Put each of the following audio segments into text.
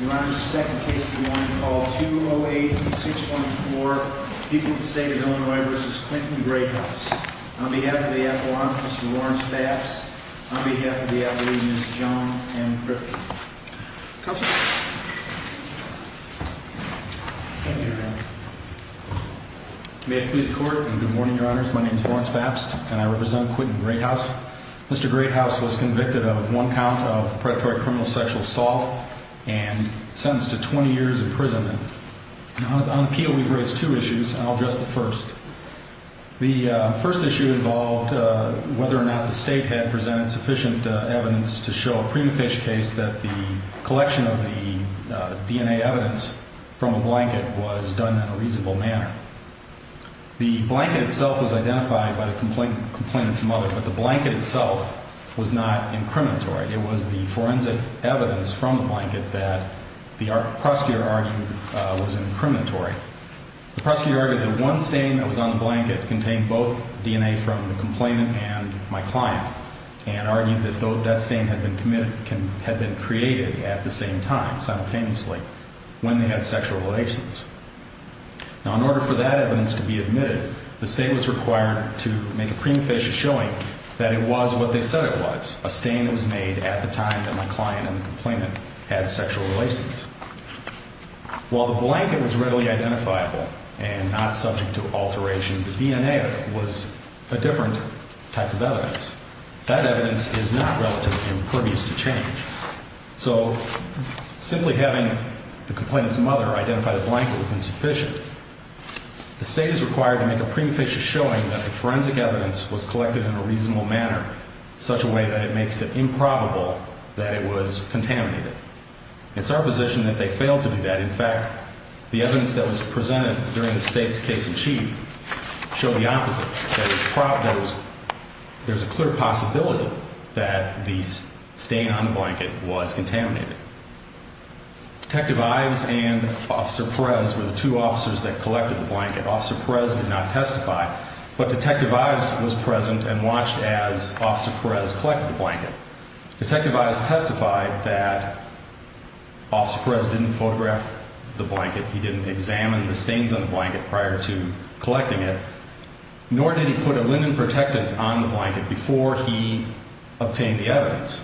Your Honor, this is the second case of the morning called 208-614, People of the State of Illinois v. Clinton-Greathouse. On behalf of the Appellant, Mr. Lawrence Bapst, on behalf of the Appellee, Ms. Joan M. Griffin. Counselor. Thank you, Your Honor. May it please the Court. Good morning, Your Honors. My name is Lawrence Bapst, and I represent Clinton-Greathouse. Mr. Greathouse was convicted of one count of predatory criminal sexual assault and sentenced to 20 years imprisonment. On appeal, we've raised two issues, and I'll address the first. The first issue involved whether or not the State had presented sufficient evidence to show a prima facie case that the collection of the DNA evidence from a blanket was done in a reasonable manner. The blanket itself was identified by the complainant's mother, but the blanket itself was not incriminatory. It was the forensic evidence from the blanket that the prosecutor argued was incriminatory. The prosecutor argued that one stain that was on the blanket contained both DNA from the complainant and my client, and argued that that stain had been created at the same time, simultaneously, when they had sexual relations. Now, in order for that evidence to be admitted, the State was required to make a prima facie showing that it was what they said it was, a stain that was made at the time that my client and the complainant had sexual relations. While the blanket was readily identifiable and not subject to alteration, the DNA was a different type of evidence. That evidence is not relatively impervious to change. So simply having the complainant's mother identify the blanket was insufficient. The State is required to make a prima facie showing that the forensic evidence was collected in a reasonable manner, in such a way that it makes it improbable that it was contaminated. It's our position that they failed to do that. In fact, the evidence that was presented during the State's case in chief showed the opposite, that there's a clear possibility that the stain on the blanket was contaminated. Detective Ives and Officer Perez were the two officers that collected the blanket. Officer Perez did not testify, but Detective Ives was present and watched as Officer Perez collected the blanket. Detective Ives testified that Officer Perez didn't photograph the blanket, he didn't examine the stains on the blanket prior to collecting it, nor did he put a linen protectant on the blanket before he obtained the evidence.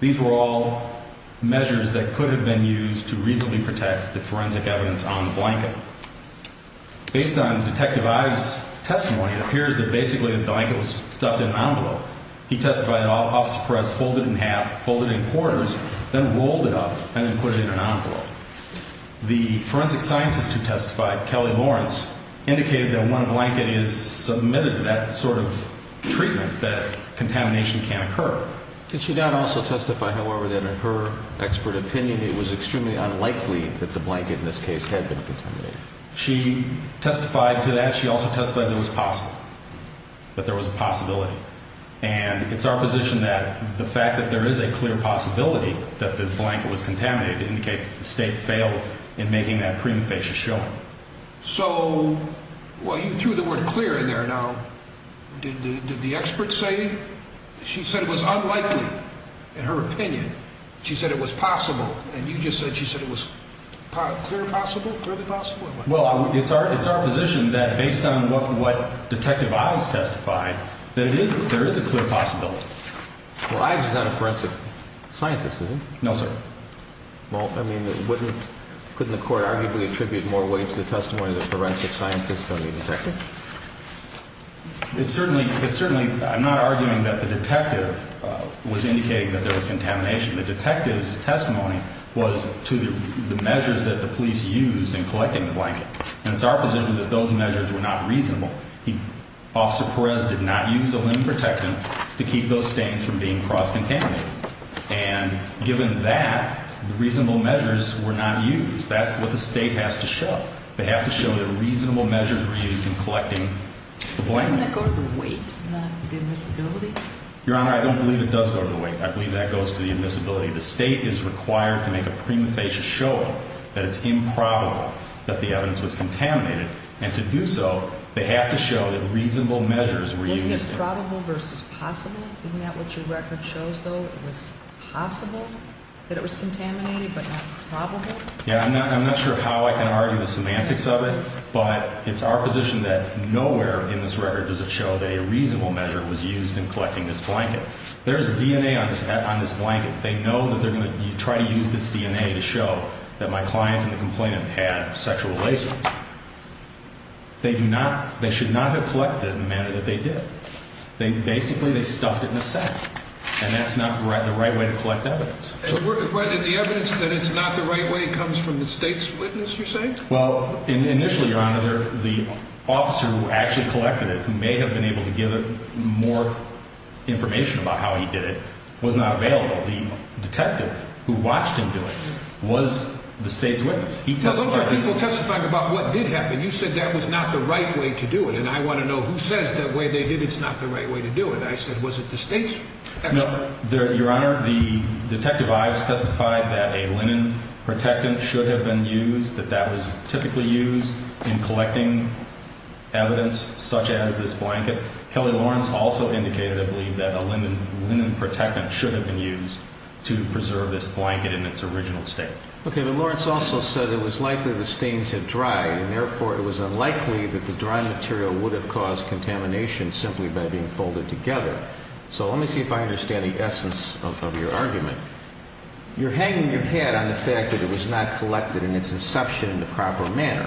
These were all measures that could have been used to reasonably protect the forensic evidence on the blanket. Based on Detective Ives' testimony, it appears that basically the blanket was stuffed in an envelope. He testified that Officer Perez folded it in half, folded it in quarters, then rolled it up and then put it in an envelope. The forensic scientist who testified, Kelly Lawrence, indicated that when a blanket is submitted to that sort of treatment, that contamination can occur. Did she not also testify, however, that in her expert opinion it was extremely unlikely that the blanket in this case had been contaminated? She testified to that. She also testified that it was possible, that there was a possibility. And it's our position that the fact that there is a clear possibility that the blanket was contaminated indicates that the State failed in making that prima facie showing. So, well, you threw the word clear in there. Now, did the expert say? She said it was unlikely, in her opinion. She said it was possible. And you just said she said it was clear possible, clearly possible? Well, it's our position that based on what Detective Ives testified, that there is a clear possibility. Well, Ives is not a forensic scientist, is he? No, sir. Well, I mean, couldn't the court arguably attribute more weight to the testimony of the forensic scientist than the detective? It certainly, I'm not arguing that the detective was indicating that there was contamination. The detective's testimony was to the measures that the police used in collecting the blanket. And it's our position that those measures were not reasonable. Officer Perez did not use a limb protectant to keep those stains from being cross-contaminated. And given that, the reasonable measures were not used. That's what the State has to show. They have to show that reasonable measures were used in collecting the blanket. Doesn't that go to the weight, not the admissibility? Your Honor, I don't believe it does go to the weight. I believe that goes to the admissibility. The State is required to make a prima facie showing that it's improbable that the evidence was contaminated. And to do so, they have to show that reasonable measures were used. Wasn't it probable versus possible? Isn't that what your record shows, though? It was possible that it was contaminated but not probable? Yeah, I'm not sure how I can argue the semantics of it, but it's our position that nowhere in this record does it show that a reasonable measure was used in collecting this blanket. There is DNA on this blanket. They know that they're going to try to use this DNA to show that my client and the complainant had sexual relations. They should not have collected it in the manner that they did. Basically, they stuffed it in a sack, and that's not the right way to collect evidence. The evidence that it's not the right way comes from the State's witness, you're saying? Well, initially, Your Honor, the officer who actually collected it, who may have been able to give more information about how he did it, was not available. The detective who watched him do it was the State's witness. Those are people testifying about what did happen. You said that was not the right way to do it, and I want to know who says that way they did it's not the right way to do it. I said, was it the State's expert? No, Your Honor, the detective Ives testified that a linen protectant should have been used, that that was typically used in collecting evidence such as this blanket. Kelly Lawrence also indicated, I believe, that a linen protectant should have been used to preserve this blanket in its original state. Okay, but Lawrence also said it was likely the stains had dried, and therefore it was unlikely that the dry material would have caused contamination simply by being folded together. So let me see if I understand the essence of your argument. You're hanging your hat on the fact that it was not collected in its inception in the proper manner.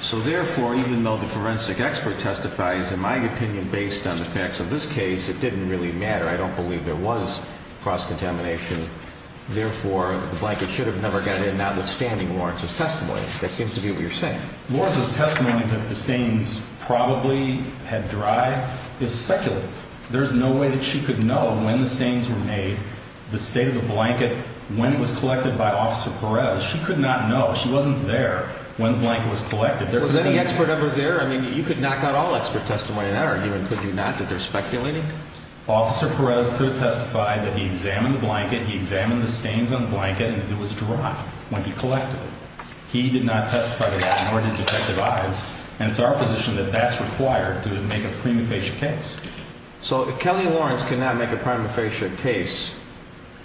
So therefore, even though the forensic expert testifies, in my opinion, based on the facts of this case, it didn't really matter. I don't believe there was cross-contamination. Therefore, the blanket should have never got in, notwithstanding Lawrence's testimony. That seems to be what you're saying. Lawrence's testimony that the stains probably had dried is speculative. There's no way that she could know when the stains were made, the state of the blanket, when it was collected by Officer Perez. She could not know. She wasn't there when the blanket was collected. Was any expert ever there? I mean, you could knock out all expert testimony in that argument, could you not, that they're speculating? Officer Perez could testify that he examined the blanket, he examined the stains on the blanket, and it was dry when he collected it. He did not testify to that, nor did Detective Ives, and it's our position that that's required to make a prima facie case. So Kelly Lawrence cannot make a prima facie case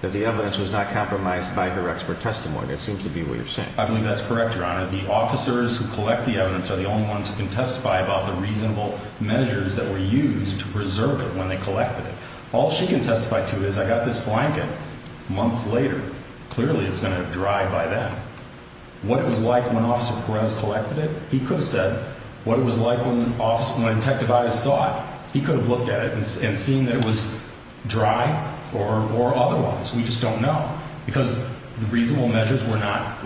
that the evidence was not compromised by her expert testimony. That seems to be what you're saying. I believe that's correct, Your Honor. The officers who collect the evidence are the only ones who can testify about the reasonable measures that were used to preserve it when they collected it. All she can testify to is, I got this blanket months later. Clearly it's going to have dried by then. What it was like when Officer Perez collected it, he could have said what it was like when Detective Ives saw it. He could have looked at it and seen that it was dry or otherwise. We just don't know because the reasonable measures were not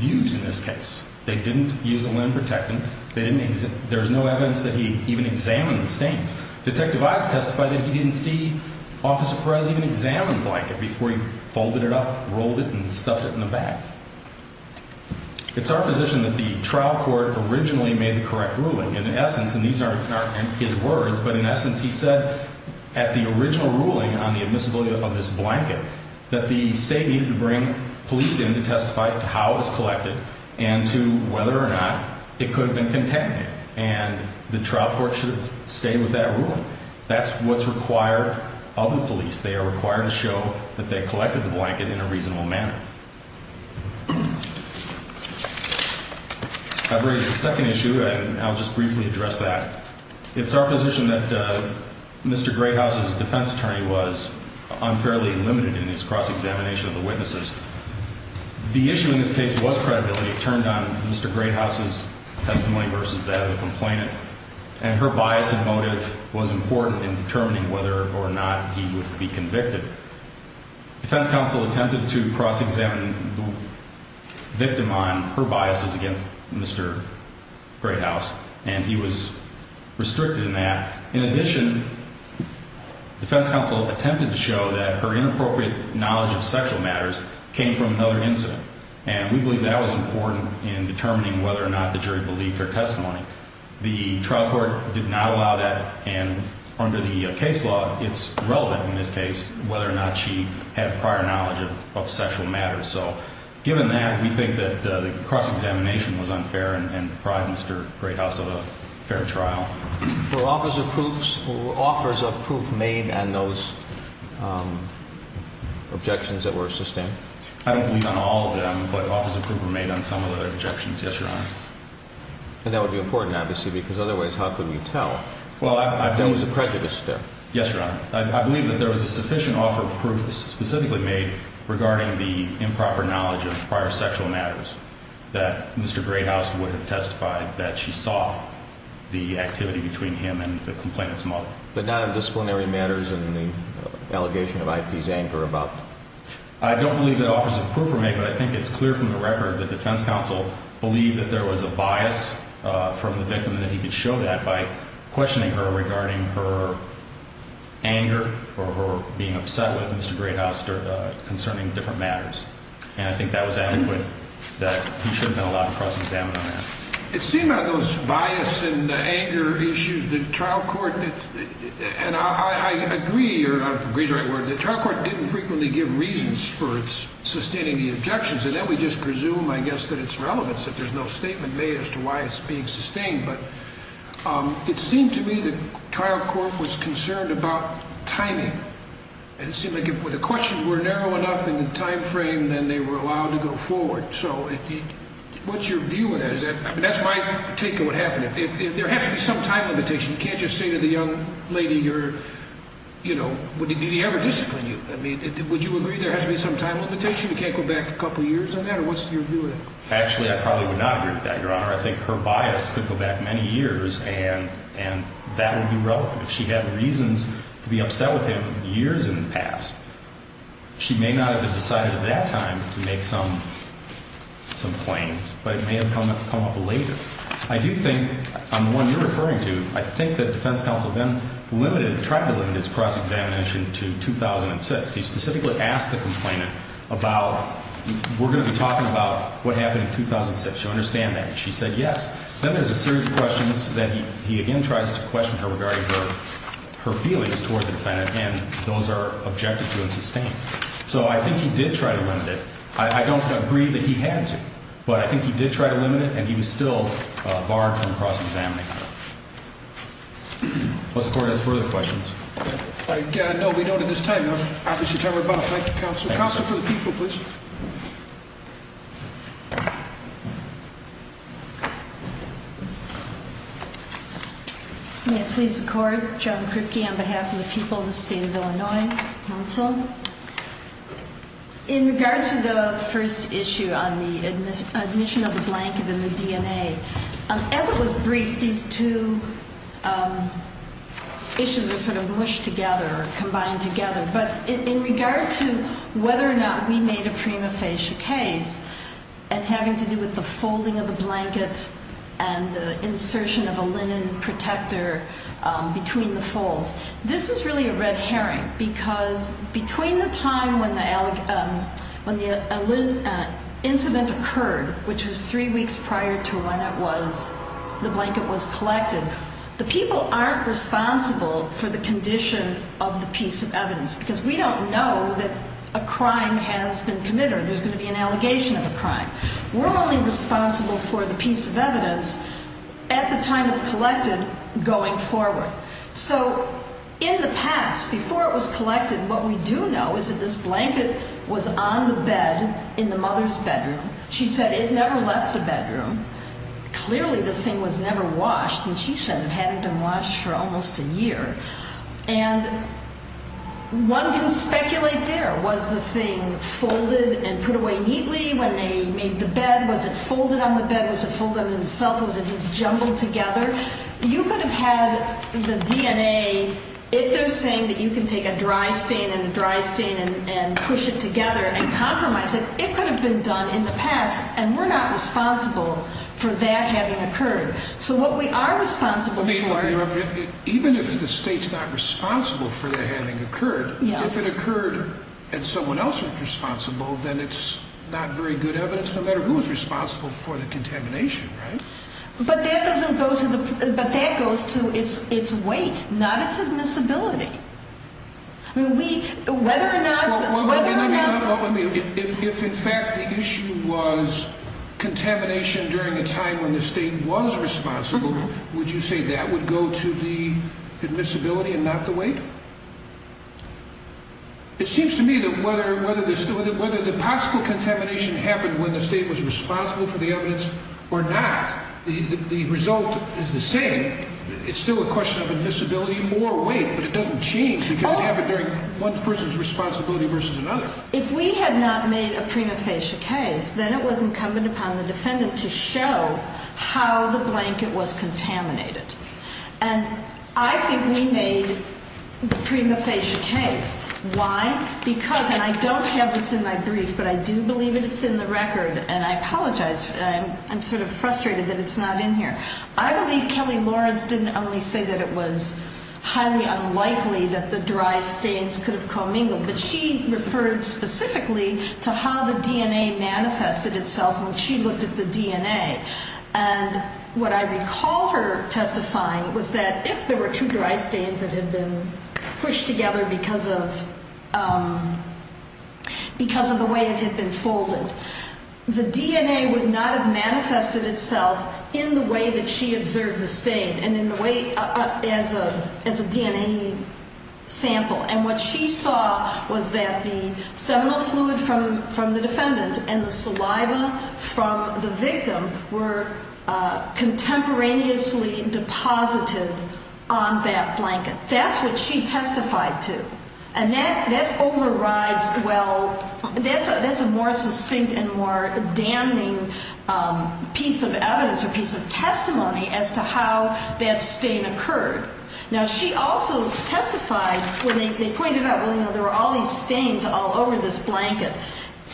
used in this case. They didn't use a limb protectant. There's no evidence that he even examined the stains. Detective Ives testified that he didn't see Officer Perez even examine the blanket before he folded it up, rolled it, and stuffed it in the bag. It's our position that the trial court originally made the correct ruling. In essence, and these aren't his words, but in essence he said at the original ruling on the admissibility of this blanket that the state needed to bring police in to testify to how it was collected and to whether or not it could have been contaminated. And the trial court should have stayed with that ruling. That's what's required of the police. They are required to show that they collected the blanket in a reasonable manner. I've read the second issue, and I'll just briefly address that. It's our position that Mr. Greathouse's defense attorney was unfairly limited in his cross-examination of the witnesses. The issue in this case was credibility. It turned on Mr. Greathouse's testimony versus that of the complainant, and her bias and motive was important in determining whether or not he would be convicted. Defense counsel attempted to cross-examine the victim on her biases against Mr. Greathouse, and he was restricted in that. In addition, defense counsel attempted to show that her inappropriate knowledge of sexual matters came from another incident, and we believe that was important in determining whether or not the jury believed her testimony. The trial court did not allow that, and under the case law, it's relevant in this case whether or not she had prior knowledge of sexual matters. So given that, we think that the cross-examination was unfair and deprived Mr. Greathouse of a fair trial. Were offers of proof made on those objections that were sustained? I don't believe on all of them, but offers of proof were made on some of the objections, yes, Your Honor. And that would be important, obviously, because otherwise how could we tell? There was a prejudice there. Yes, Your Honor. I believe that there was a sufficient offer of proof specifically made regarding the improper knowledge of prior sexual matters that Mr. Greathouse would have testified that she saw the activity between him and the complainant's mother. But not on disciplinary matters and the allegation of IP's anger about? I don't believe that offers of proof were made, but I think it's clear from the record that the defense counsel believed that there was a bias from the victim and that he could show that by questioning her regarding her anger or her being upset with Mr. Greathouse concerning different matters. And I think that was adequate, that he should have been allowed to cross-examine on that. It seemed on those bias and anger issues, the trial court, and I agree, or I don't know if agree is the right word, the trial court didn't frequently give reasons for sustaining the objections, and then we just presume, I guess, that it's relevant, that there's no statement made as to why it's being sustained. But it seemed to me the trial court was concerned about timing, and it seemed like if the questions were narrow enough in the time frame, then they were allowed to go forward. So what's your view of that? I mean, that's my take of what happened. If there has to be some time limitation, you can't just say to the young lady you're, you know, did he ever discipline you? I mean, would you agree there has to be some time limitation? You can't go back a couple years on that? Or what's your view of that? Actually, I probably would not agree with that, Your Honor. I think her bias could go back many years, and that would be relevant. If she had reasons to be upset with him years in the past, she may not have decided at that time to make some claims, but it may have come up later. I do think, on the one you're referring to, I think that defense counsel then limited, tried to limit his cross-examination to 2006. He specifically asked the complainant about we're going to be talking about what happened in 2006. Do you understand that? And she said yes. Then there's a series of questions that he again tries to question her regarding her feelings toward the defendant, and those are objective to and sustained. So I think he did try to limit it. I don't agree that he had to, but I think he did try to limit it, and he was still barred from cross-examining her. This Court has further questions. No, we don't at this time. I'm happy to turn her back. Thank you, counsel. Counsel for the people, please. May it please the Court. Joan Kripke on behalf of the people of the State of Illinois Council. In regard to the first issue on the admission of the blanket and the DNA, as it was briefed, these two issues were sort of mushed together or combined together. But in regard to whether or not we made a prima facie case and having to do with the folding of the blanket and the insertion of a linen protector between the folds, this is really a red herring because between the time when the incident occurred, which was three weeks prior to when the blanket was collected, the people aren't responsible for the condition of the piece of evidence because we don't know that a crime has been committed or there's going to be an allegation of a crime. We're only responsible for the piece of evidence at the time it's collected going forward. So in the past, before it was collected, what we do know is that this blanket was on the bed in the mother's bedroom. She said it never left the bedroom. Clearly the thing was never washed, and she said it hadn't been washed for almost a year. And one can speculate there, was the thing folded and put away neatly when they made the bed? Was it folded on the bed? Was it folded on itself? Was it just jumbled together? You could have had the DNA, if they're saying that you can take a dry stain and a dry stain and push it together and compromise it. It could have been done in the past, and we're not responsible for that having occurred. So what we are responsible for— Even if the state's not responsible for the having occurred, if it occurred and someone else was responsible, then it's not very good evidence, no matter who was responsible for the contamination, right? But that goes to its weight, not its admissibility. Whether or not— If in fact the issue was contamination during a time when the state was responsible, would you say that would go to the admissibility and not the weight? It seems to me that whether the possible contamination happened when the state was responsible for the evidence or not, the result is the same. It's still a question of admissibility and more weight, but it doesn't change because it happened during one person's responsibility versus another. If we had not made a prima facie case, then it was incumbent upon the defendant to show how the blanket was contaminated. And I think we made the prima facie case. Why? Because—and I don't have this in my brief, but I do believe it's in the record, and I apologize. I'm sort of frustrated that it's not in here. I believe Kelly Lawrence didn't only say that it was highly unlikely that the dry stains could have commingled, but she referred specifically to how the DNA manifested itself when she looked at the DNA. And what I recall her testifying was that if there were two dry stains that had been pushed together because of the way it had been folded, the DNA would not have manifested itself in the way that she observed the stain and in the way—as a DNA sample. And what she saw was that the seminal fluid from the defendant and the saliva from the victim were contemporaneously deposited on that blanket. That's what she testified to. And that overrides—well, that's a more succinct and more damning piece of evidence or piece of testimony as to how that stain occurred. Now, she also testified when they pointed out, well, you know, there were all these stains all over this blanket,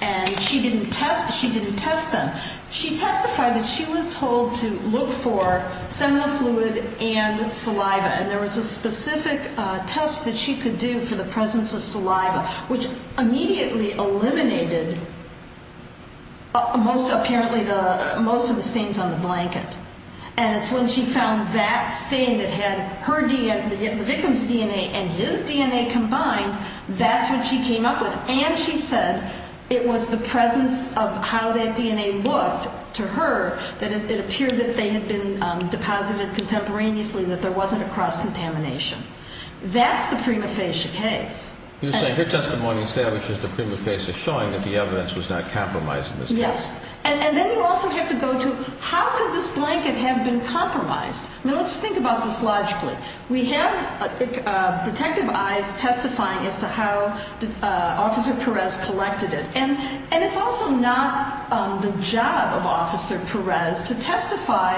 and she didn't test them. She testified that she was told to look for seminal fluid and saliva, and there was a specific test that she could do for the presence of saliva, which immediately eliminated apparently most of the stains on the blanket. And it's when she found that stain that had the victim's DNA and his DNA combined, that's what she came up with. And she said it was the presence of how that DNA looked to her that it appeared that they had been deposited contemporaneously, that there wasn't a cross-contamination. That's the prima facie case. You're saying her testimony establishes the prima facie, showing that the evidence was not compromised in this case. Yes. And then you also have to go to how could this blanket have been compromised? Now, let's think about this logically. We have detective eyes testifying as to how Officer Perez collected it, and it's also not the job of Officer Perez to testify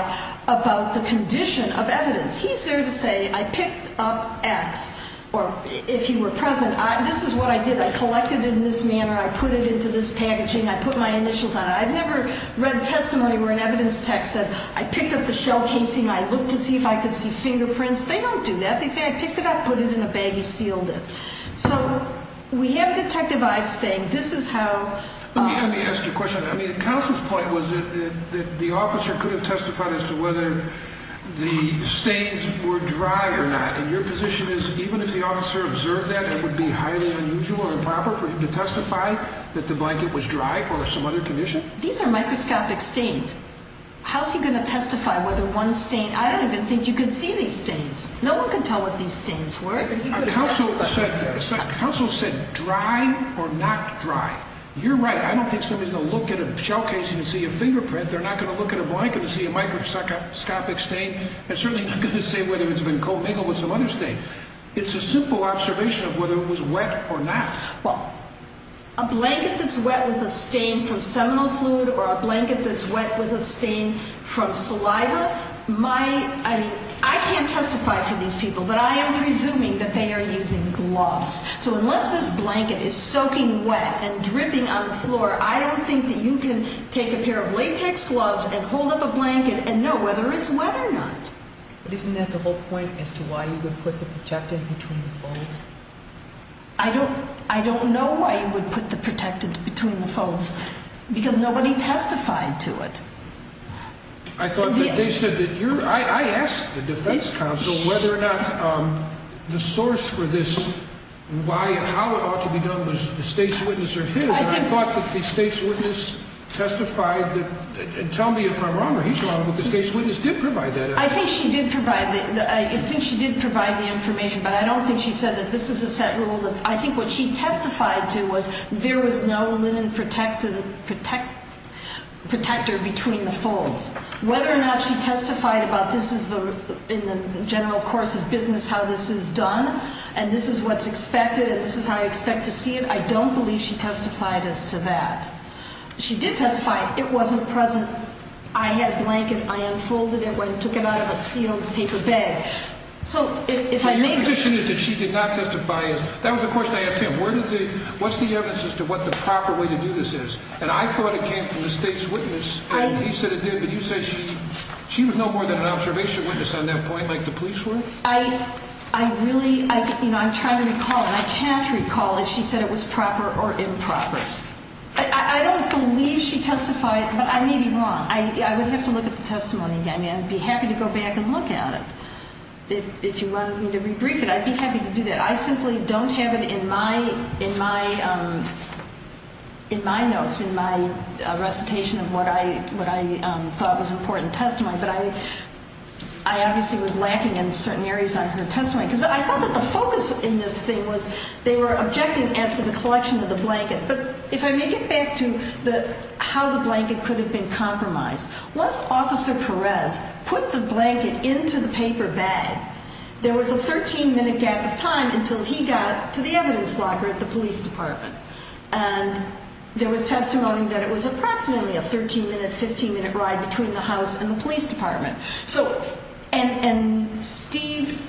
about the condition of evidence. He's there to say I picked up X, or if he were present, this is what I did. I collected it in this manner. I put it into this packaging. I put my initials on it. I've never read testimony where an evidence tech said I picked up the shell casing and I looked to see if I could see fingerprints. They don't do that. They say I picked it up, put it in a bag, and sealed it. So we have detective eyes saying this is how... Let me ask you a question. I mean, Counsel's point was that the officer could have testified as to whether the stains were dry or not, and your position is even if the officer observed that, it would be highly unusual or improper for him to testify that the blanket was dry or some other condition? These are microscopic stains. How's he going to testify whether one stain... I don't even think you could see these stains. No one could tell what these stains were. Counsel said dry or not dry. You're right. I don't think somebody's going to look at a shell casing and see a fingerprint. They're not going to look at a blanket and see a microscopic stain and certainly not going to say whether it's been commingled with some other stain. It's a simple observation of whether it was wet or not. Well, a blanket that's wet with a stain from seminal fluid or a blanket that's wet with a stain from saliva might... I mean, I can't testify for these people, but I am presuming that they are using gloves. So unless this blanket is soaking wet and dripping on the floor, I don't think that you can take a pair of latex gloves and hold up a blanket and know whether it's wet or not. But isn't that the whole point as to why you would put the protectant between the folds? I don't know why you would put the protectant between the folds because nobody testified to it. I thought that they said that you're... I asked the defense counsel whether or not the source for this, why and how it ought to be done was the state's witness or his, and I thought that the state's witness testified that... And tell me if I'm wrong or he's wrong, but the state's witness did provide that evidence. I think she did provide the... I think she did provide the information, but I don't think she said that this is a set rule that... Whether or not she testified about this is in the general course of business how this is done and this is what's expected and this is how you expect to see it, I don't believe she testified as to that. She did testify it wasn't present. I had a blanket. I unfolded it and took it out of a sealed paper bag. So if I may... So your position is that she did not testify. That was the question I asked him. What's the evidence as to what the proper way to do this is? And I thought it came from the state's witness and he said it did, but you said she... She was no more than an observation witness on that point like the police were? I really... I'm trying to recall and I can't recall if she said it was proper or improper. I don't believe she testified, but I may be wrong. I would have to look at the testimony again. I'd be happy to go back and look at it. If you wanted me to rebrief it, I'd be happy to do that. I simply don't have it in my notes, in my recitation of what I thought was important testimony. But I obviously was lacking in certain areas on her testimony because I thought that the focus in this thing was they were objecting as to the collection of the blanket. But if I may get back to how the blanket could have been compromised. Once Officer Perez put the blanket into the paper bag, there was a 13-minute gap of time until he got to the evidence locker at the police department. And there was testimony that it was approximately a 13-minute, 15-minute ride between the house and the police department. And Steve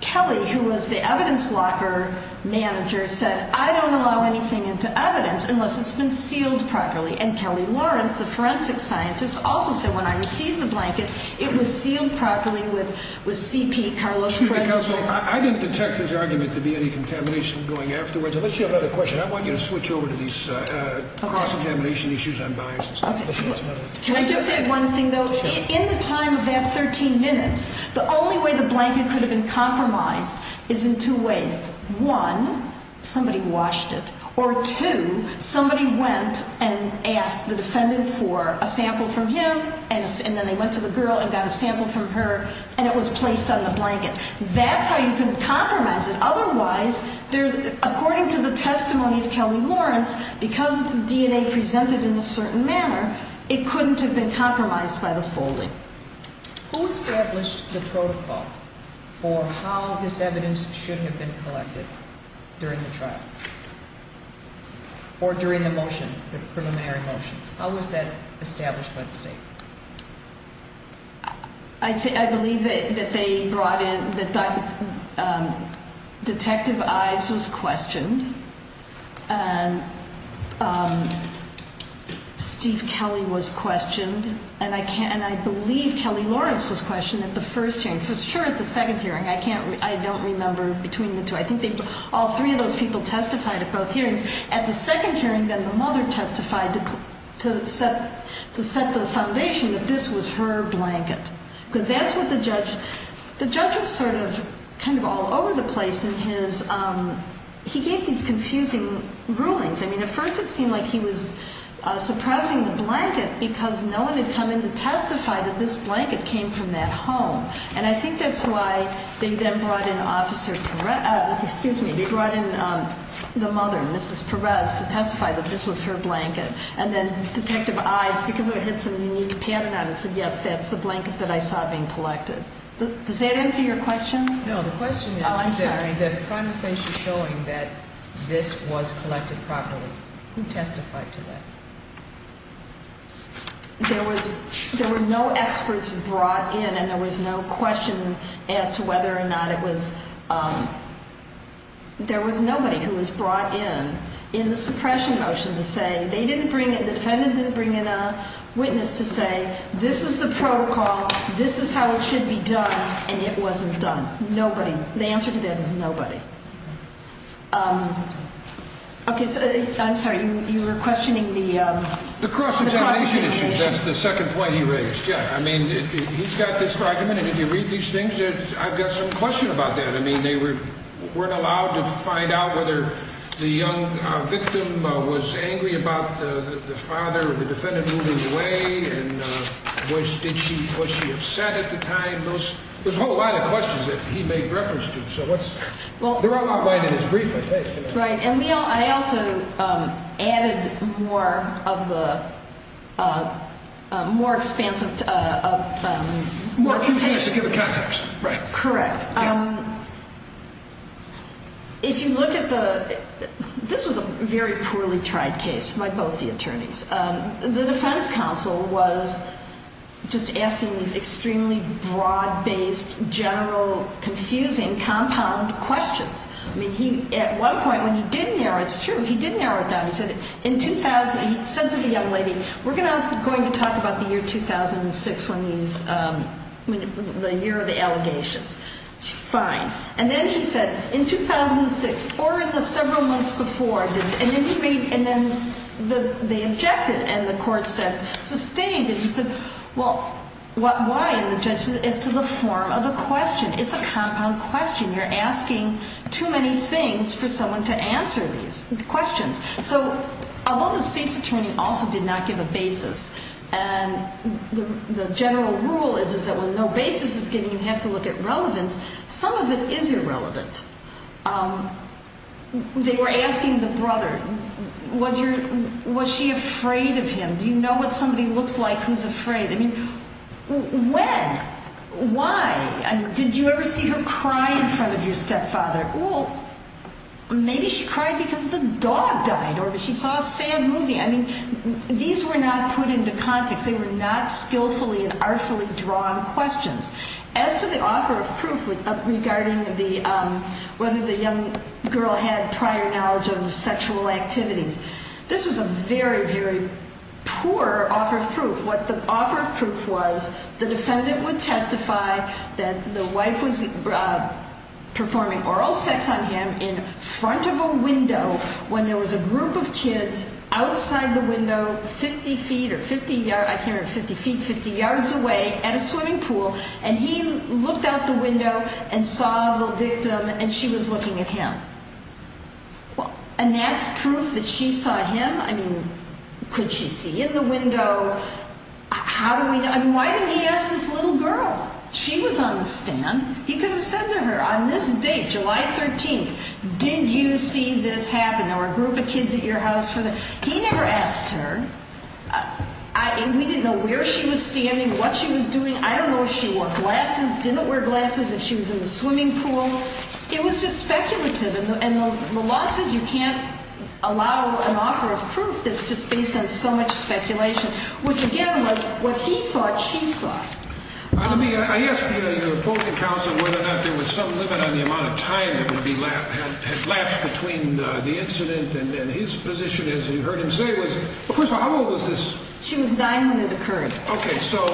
Kelly, who was the evidence locker manager, said, I don't allow anything into evidence unless it's been sealed properly. And Kelly Lawrence, the forensic scientist, also said, when I received the blanket, it was sealed properly with CP, Carlos Perez's name. I didn't detect his argument to be any contamination going afterwards. Unless you have another question, I want you to switch over to these cross-examination issues. I'm biased. Can I just say one thing, though? Sure. In the time of that 13 minutes, the only way the blanket could have been compromised is in two ways. One, somebody washed it. Or two, somebody went and asked the defendant for a sample from him, and then they went to the girl and got a sample from her, and it was placed on the blanket. That's how you can compromise it. Otherwise, according to the testimony of Kelly Lawrence, because the DNA presented in a certain manner, it couldn't have been compromised by the folding. Who established the protocol for how this evidence should have been collected during the trial, or during the motion, the preliminary motions? How was that established by the state? I believe that they brought in the detective Ives was questioned. And Steve Kelly was questioned. And I believe Kelly Lawrence was questioned at the first hearing. For sure at the second hearing. I don't remember between the two. I think all three of those people testified at both hearings. At the second hearing, then, the mother testified to set the foundation that this was her blanket. Because that's what the judge – the judge was sort of kind of all over the place in his – in his rulings. I mean, at first it seemed like he was suppressing the blanket because no one had come in to testify that this blanket came from that home. And I think that's why they then brought in Officer Perez – excuse me, they brought in the mother, Mrs. Perez, to testify that this was her blanket. And then Detective Ives, because it had some unique pattern on it, said, yes, that's the blanket that I saw being collected. Does that answer your question? No, the question is – Oh, I'm sorry. The final finisher showing that this was collected properly. Who testified to that? There was – there were no experts brought in, and there was no question as to whether or not it was – there was nobody who was brought in in the suppression motion to say – they didn't bring in – the defendant didn't bring in a witness to say, this is the protocol, this is how it should be done, and it wasn't done. Nobody. The answer to that is nobody. Okay, I'm sorry, you were questioning the – The cross-examination issue. The cross-examination issue. That's the second point he raised, yeah. I mean, he's got this argument, and if you read these things, I've got some question about that. I mean, they weren't allowed to find out whether the young victim was angry about the father or the defendant moving away, and was she upset at the time? I mean, those – there's a whole lot of questions that he made reference to, so what's – there are a lot of ways in his brief, I think. Right, and we all – I also added more of the – more expansive – More convenience to give a context, right. Correct. If you look at the – this was a very poorly tried case by both the attorneys. The defense counsel was just asking these extremely broad-based, general, confusing, compound questions. I mean, he – at one point, when he did narrow – it's true, he did narrow it down. He said in – he said to the young lady, we're going to talk about the year 2006 when he's – the year of the allegations. Fine. And then he said, in 2006, or in the several months before, and then he made – and then they objected, and the court said – sustained, and he said, well, why, and the judge said, it's to the form of a question. It's a compound question. You're asking too many things for someone to answer these questions. So although the state's attorney also did not give a basis, and the general rule is that when no basis is given, you have to look at relevance, some of it is irrelevant. They were asking the brother, was your – was she afraid of him? Do you know what somebody looks like who's afraid? I mean, when? Why? I mean, did you ever see her cry in front of your stepfather? Well, maybe she cried because the dog died or she saw a sad movie. I mean, these were not put into context. They were not skillfully and artfully drawn questions. As to the offer of proof regarding whether the young girl had prior knowledge of sexual activities, this was a very, very poor offer of proof. What the offer of proof was, the defendant would testify that the wife was performing oral sex on him in front of a window when there was a group of kids outside the window 50 feet or 50 – I can't remember, 50 feet, 50 yards away at a swimming pool, and he looked out the window and saw the victim and she was looking at him. And that's proof that she saw him? I mean, could she see in the window? How do we know? I mean, why didn't he ask this little girl? She was on the stand. He could have said to her on this date, July 13th, did you see this happen? There were a group of kids at your house for the – he never asked her. We didn't know where she was standing, what she was doing. I don't know if she wore glasses, didn't wear glasses, if she was in the swimming pool. It was just speculative. And the law says you can't allow an offer of proof that's just based on so much speculation, which, again, was what he thought she saw. I mean, I asked your opposing counsel whether or not there was some limit on the amount of time that had lapsed between the incident and his position, as you heard him say, was First of all, how old was this? She was nine when it occurred. Okay, so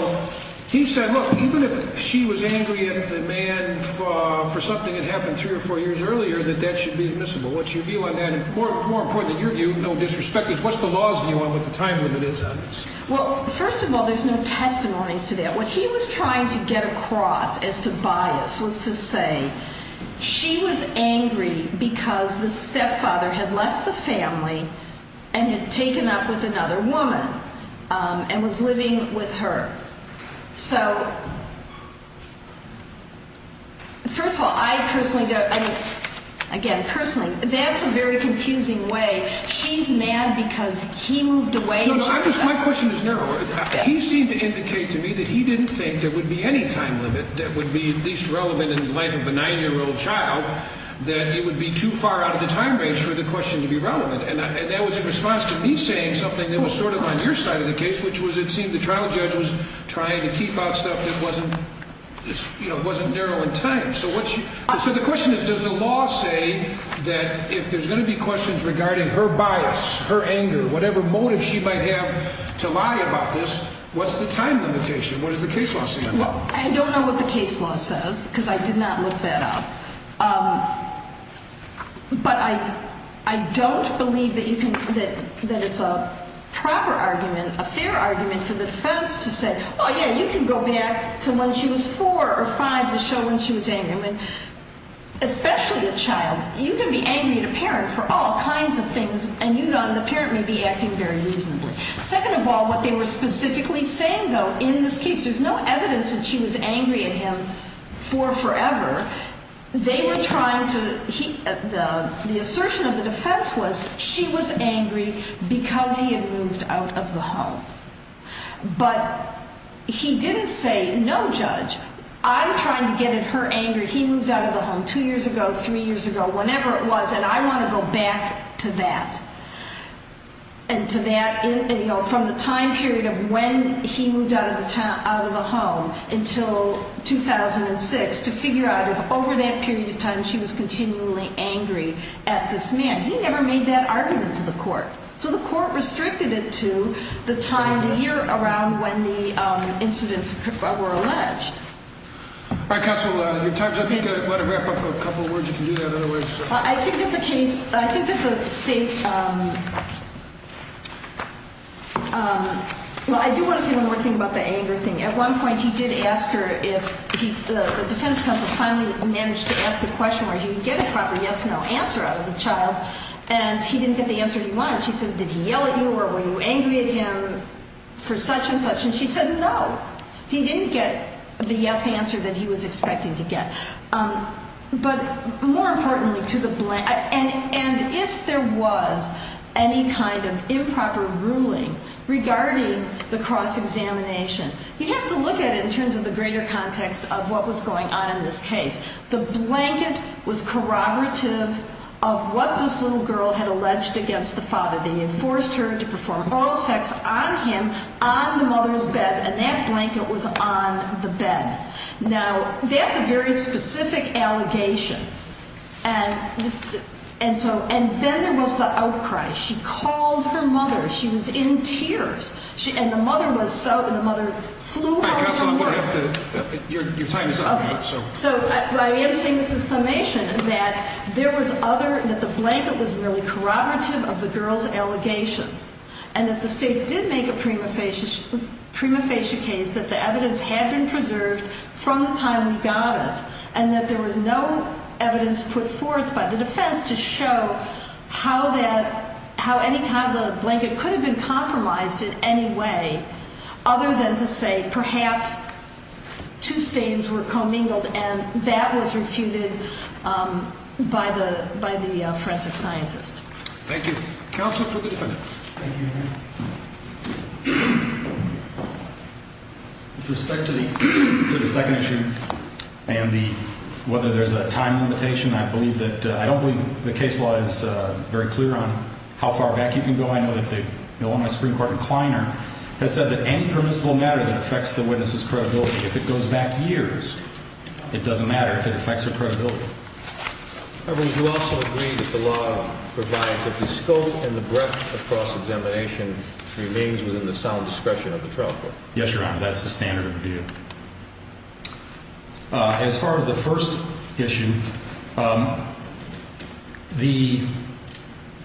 he said, look, even if she was angry at the man for something that happened three or four years earlier, that that should be admissible. What's your view on that? And more important than your view, no disrespect, is what's the law's view on what the time limit is on this? Well, first of all, there's no testimonies to that. What he was trying to get across as to bias was to say she was angry because the stepfather had left the family and had taken up with another woman and was living with her. So, first of all, I personally don't – I mean, again, personally, that's a very confusing way. She's mad because he moved away. My question is narrower. He seemed to indicate to me that he didn't think there would be any time limit that would be at least relevant in the life of a nine-year-old child, that it would be too far out of the time range for the question to be relevant. And that was in response to me saying something that was sort of on your side of the case, which was it seemed the trial judge was trying to keep out stuff that wasn't narrow in time. So the question is, does the law say that if there's going to be questions regarding her bias, her anger, whatever motive she might have to lie about this, what's the time limitation? What does the case law say on that? I don't know what the case law says because I did not look that up. But I don't believe that you can – that it's a proper argument, a fair argument for the defense to say, oh, yeah, you can go back to when she was four or five to show when she was angry. I mean, especially a child, you can be angry at a parent for all kinds of things, and you don't – the parent may be acting very reasonably. Second of all, what they were specifically saying, though, in this case, which there's no evidence that she was angry at him for forever, they were trying to – the assertion of the defense was she was angry because he had moved out of the home. But he didn't say, no, Judge, I'm trying to get at her anger. He moved out of the home two years ago, three years ago, whenever it was, and I want to go back to that. And to that – you know, from the time period of when he moved out of the home until 2006 to figure out if over that period of time she was continually angry at this man. He never made that argument to the court. So the court restricted it to the time of the year around when the incidents were alleged. All right, counsel, your time's up. I think I want to wrap up with a couple of words. You can do that otherwise. I think that the case – I think that the State – well, I do want to say one more thing about the anger thing. At one point he did ask her if – the defense counsel finally managed to ask a question where he would get a proper yes-no answer out of the child, and he didn't get the answer he wanted. She said, did he yell at you or were you angry at him for such and such? And she said no. He didn't get the yes answer that he was expecting to get. But more importantly to the – and if there was any kind of improper ruling regarding the cross-examination, you have to look at it in terms of the greater context of what was going on in this case. The blanket was corroborative of what this little girl had alleged against the father. They had forced her to perform oral sex on him on the mother's bed, and that blanket was on the bed. Now, that's a very specific allegation. And so – and then there was the outcry. She called her mother. She was in tears. And the mother was so – the mother flew home from work. Your time is up. Okay. So I am saying this is summation that there was other – that the blanket was merely corroborative of the girl's allegations and that the State did make a prima facie case that the evidence had been preserved from the time we got it and that there was no evidence put forth by the defense to show how that – how any kind of blanket could have been compromised in any way other than to say perhaps two stains were commingled and that was refuted by the forensic scientist. Thank you. Counsel for the defendant. Thank you, Your Honor. With respect to the second issue and the – whether there's a time limitation, I believe that – I don't believe the case law is very clear on how far back you can go. I know that the Illinois Supreme Court in Kleiner has said that any permissible matter that affects the witness's credibility, if it goes back years, it doesn't matter if it affects her credibility. I mean, do you also agree that the law provides that the scope and the breadth of cross-examination remains within the sound discretion of the trial court? Yes, Your Honor. That's the standard view. As far as the first issue, the –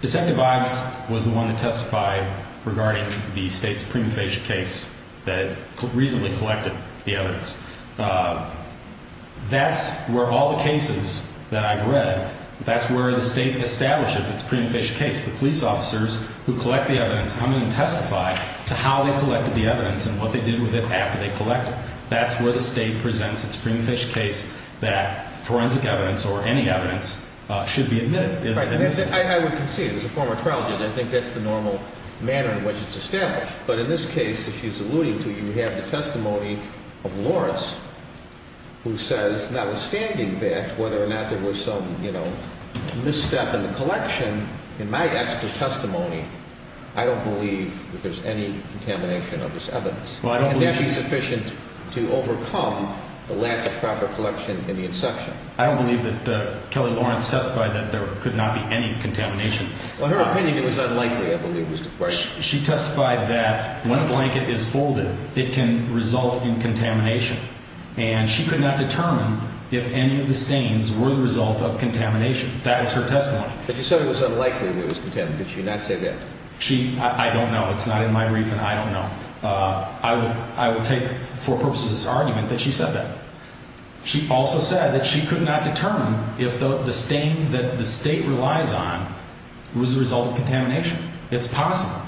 Detective Ives was the one that testified regarding the State's prima facie case that reasonably collected the evidence. That's where all the cases that I've read, that's where the State establishes its prima facie case. The police officers who collect the evidence come in and testify to how they collected the evidence and what they did with it after they collected it. That's where the State presents its prima facie case that forensic evidence or any evidence should be admitted. Right. I would concede, as a former trial judge, I think that's the normal manner in which it's established. But in this case, if she's alluding to, you have the testimony of Lawrence who says, notwithstanding that, whether or not there was some, you know, misstep in the collection, in my expert testimony, I don't believe that there's any contamination of this evidence. Well, I don't believe – And that should be sufficient to overcome the lack of proper collection in the inception. I don't believe that Kelly Lawrence testified that there could not be any contamination. In her opinion, it was unlikely, I believe. She testified that when a blanket is folded, it can result in contamination. And she could not determine if any of the stains were the result of contamination. That was her testimony. But you said it was unlikely that it was contaminated. Did she not say that? She – I don't know. It's not in my brief, and I don't know. I would take for purposes of this argument that she said that. She also said that she could not determine if the stain that the State relies on was the result of contamination. It's possible.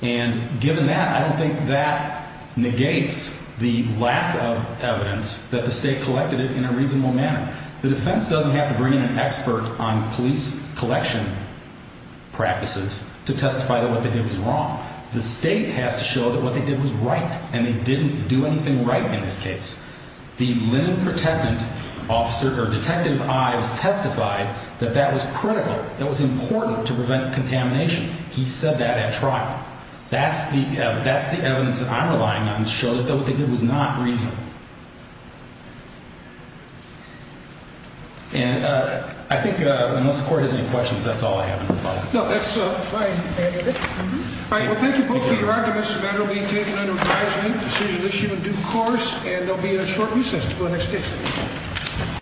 And given that, I don't think that negates the lack of evidence that the State collected it in a reasonable manner. The defense doesn't have to bring in an expert on police collection practices to testify that what they did was wrong. The State has to show that what they did was right, and they didn't do anything right in this case. The linen protectant officer, or Detective Ives, testified that that was critical. It was important to prevent contamination. He said that at trial. That's the evidence that I'm relying on to show that what they did was not reasonable. And I think, unless the Court has any questions, that's all I have in my book. No, that's fine. All right, well, thank you both for your arguments. This matter will be taken under advisement, decision issued in due course, and there will be a short recess until the next case.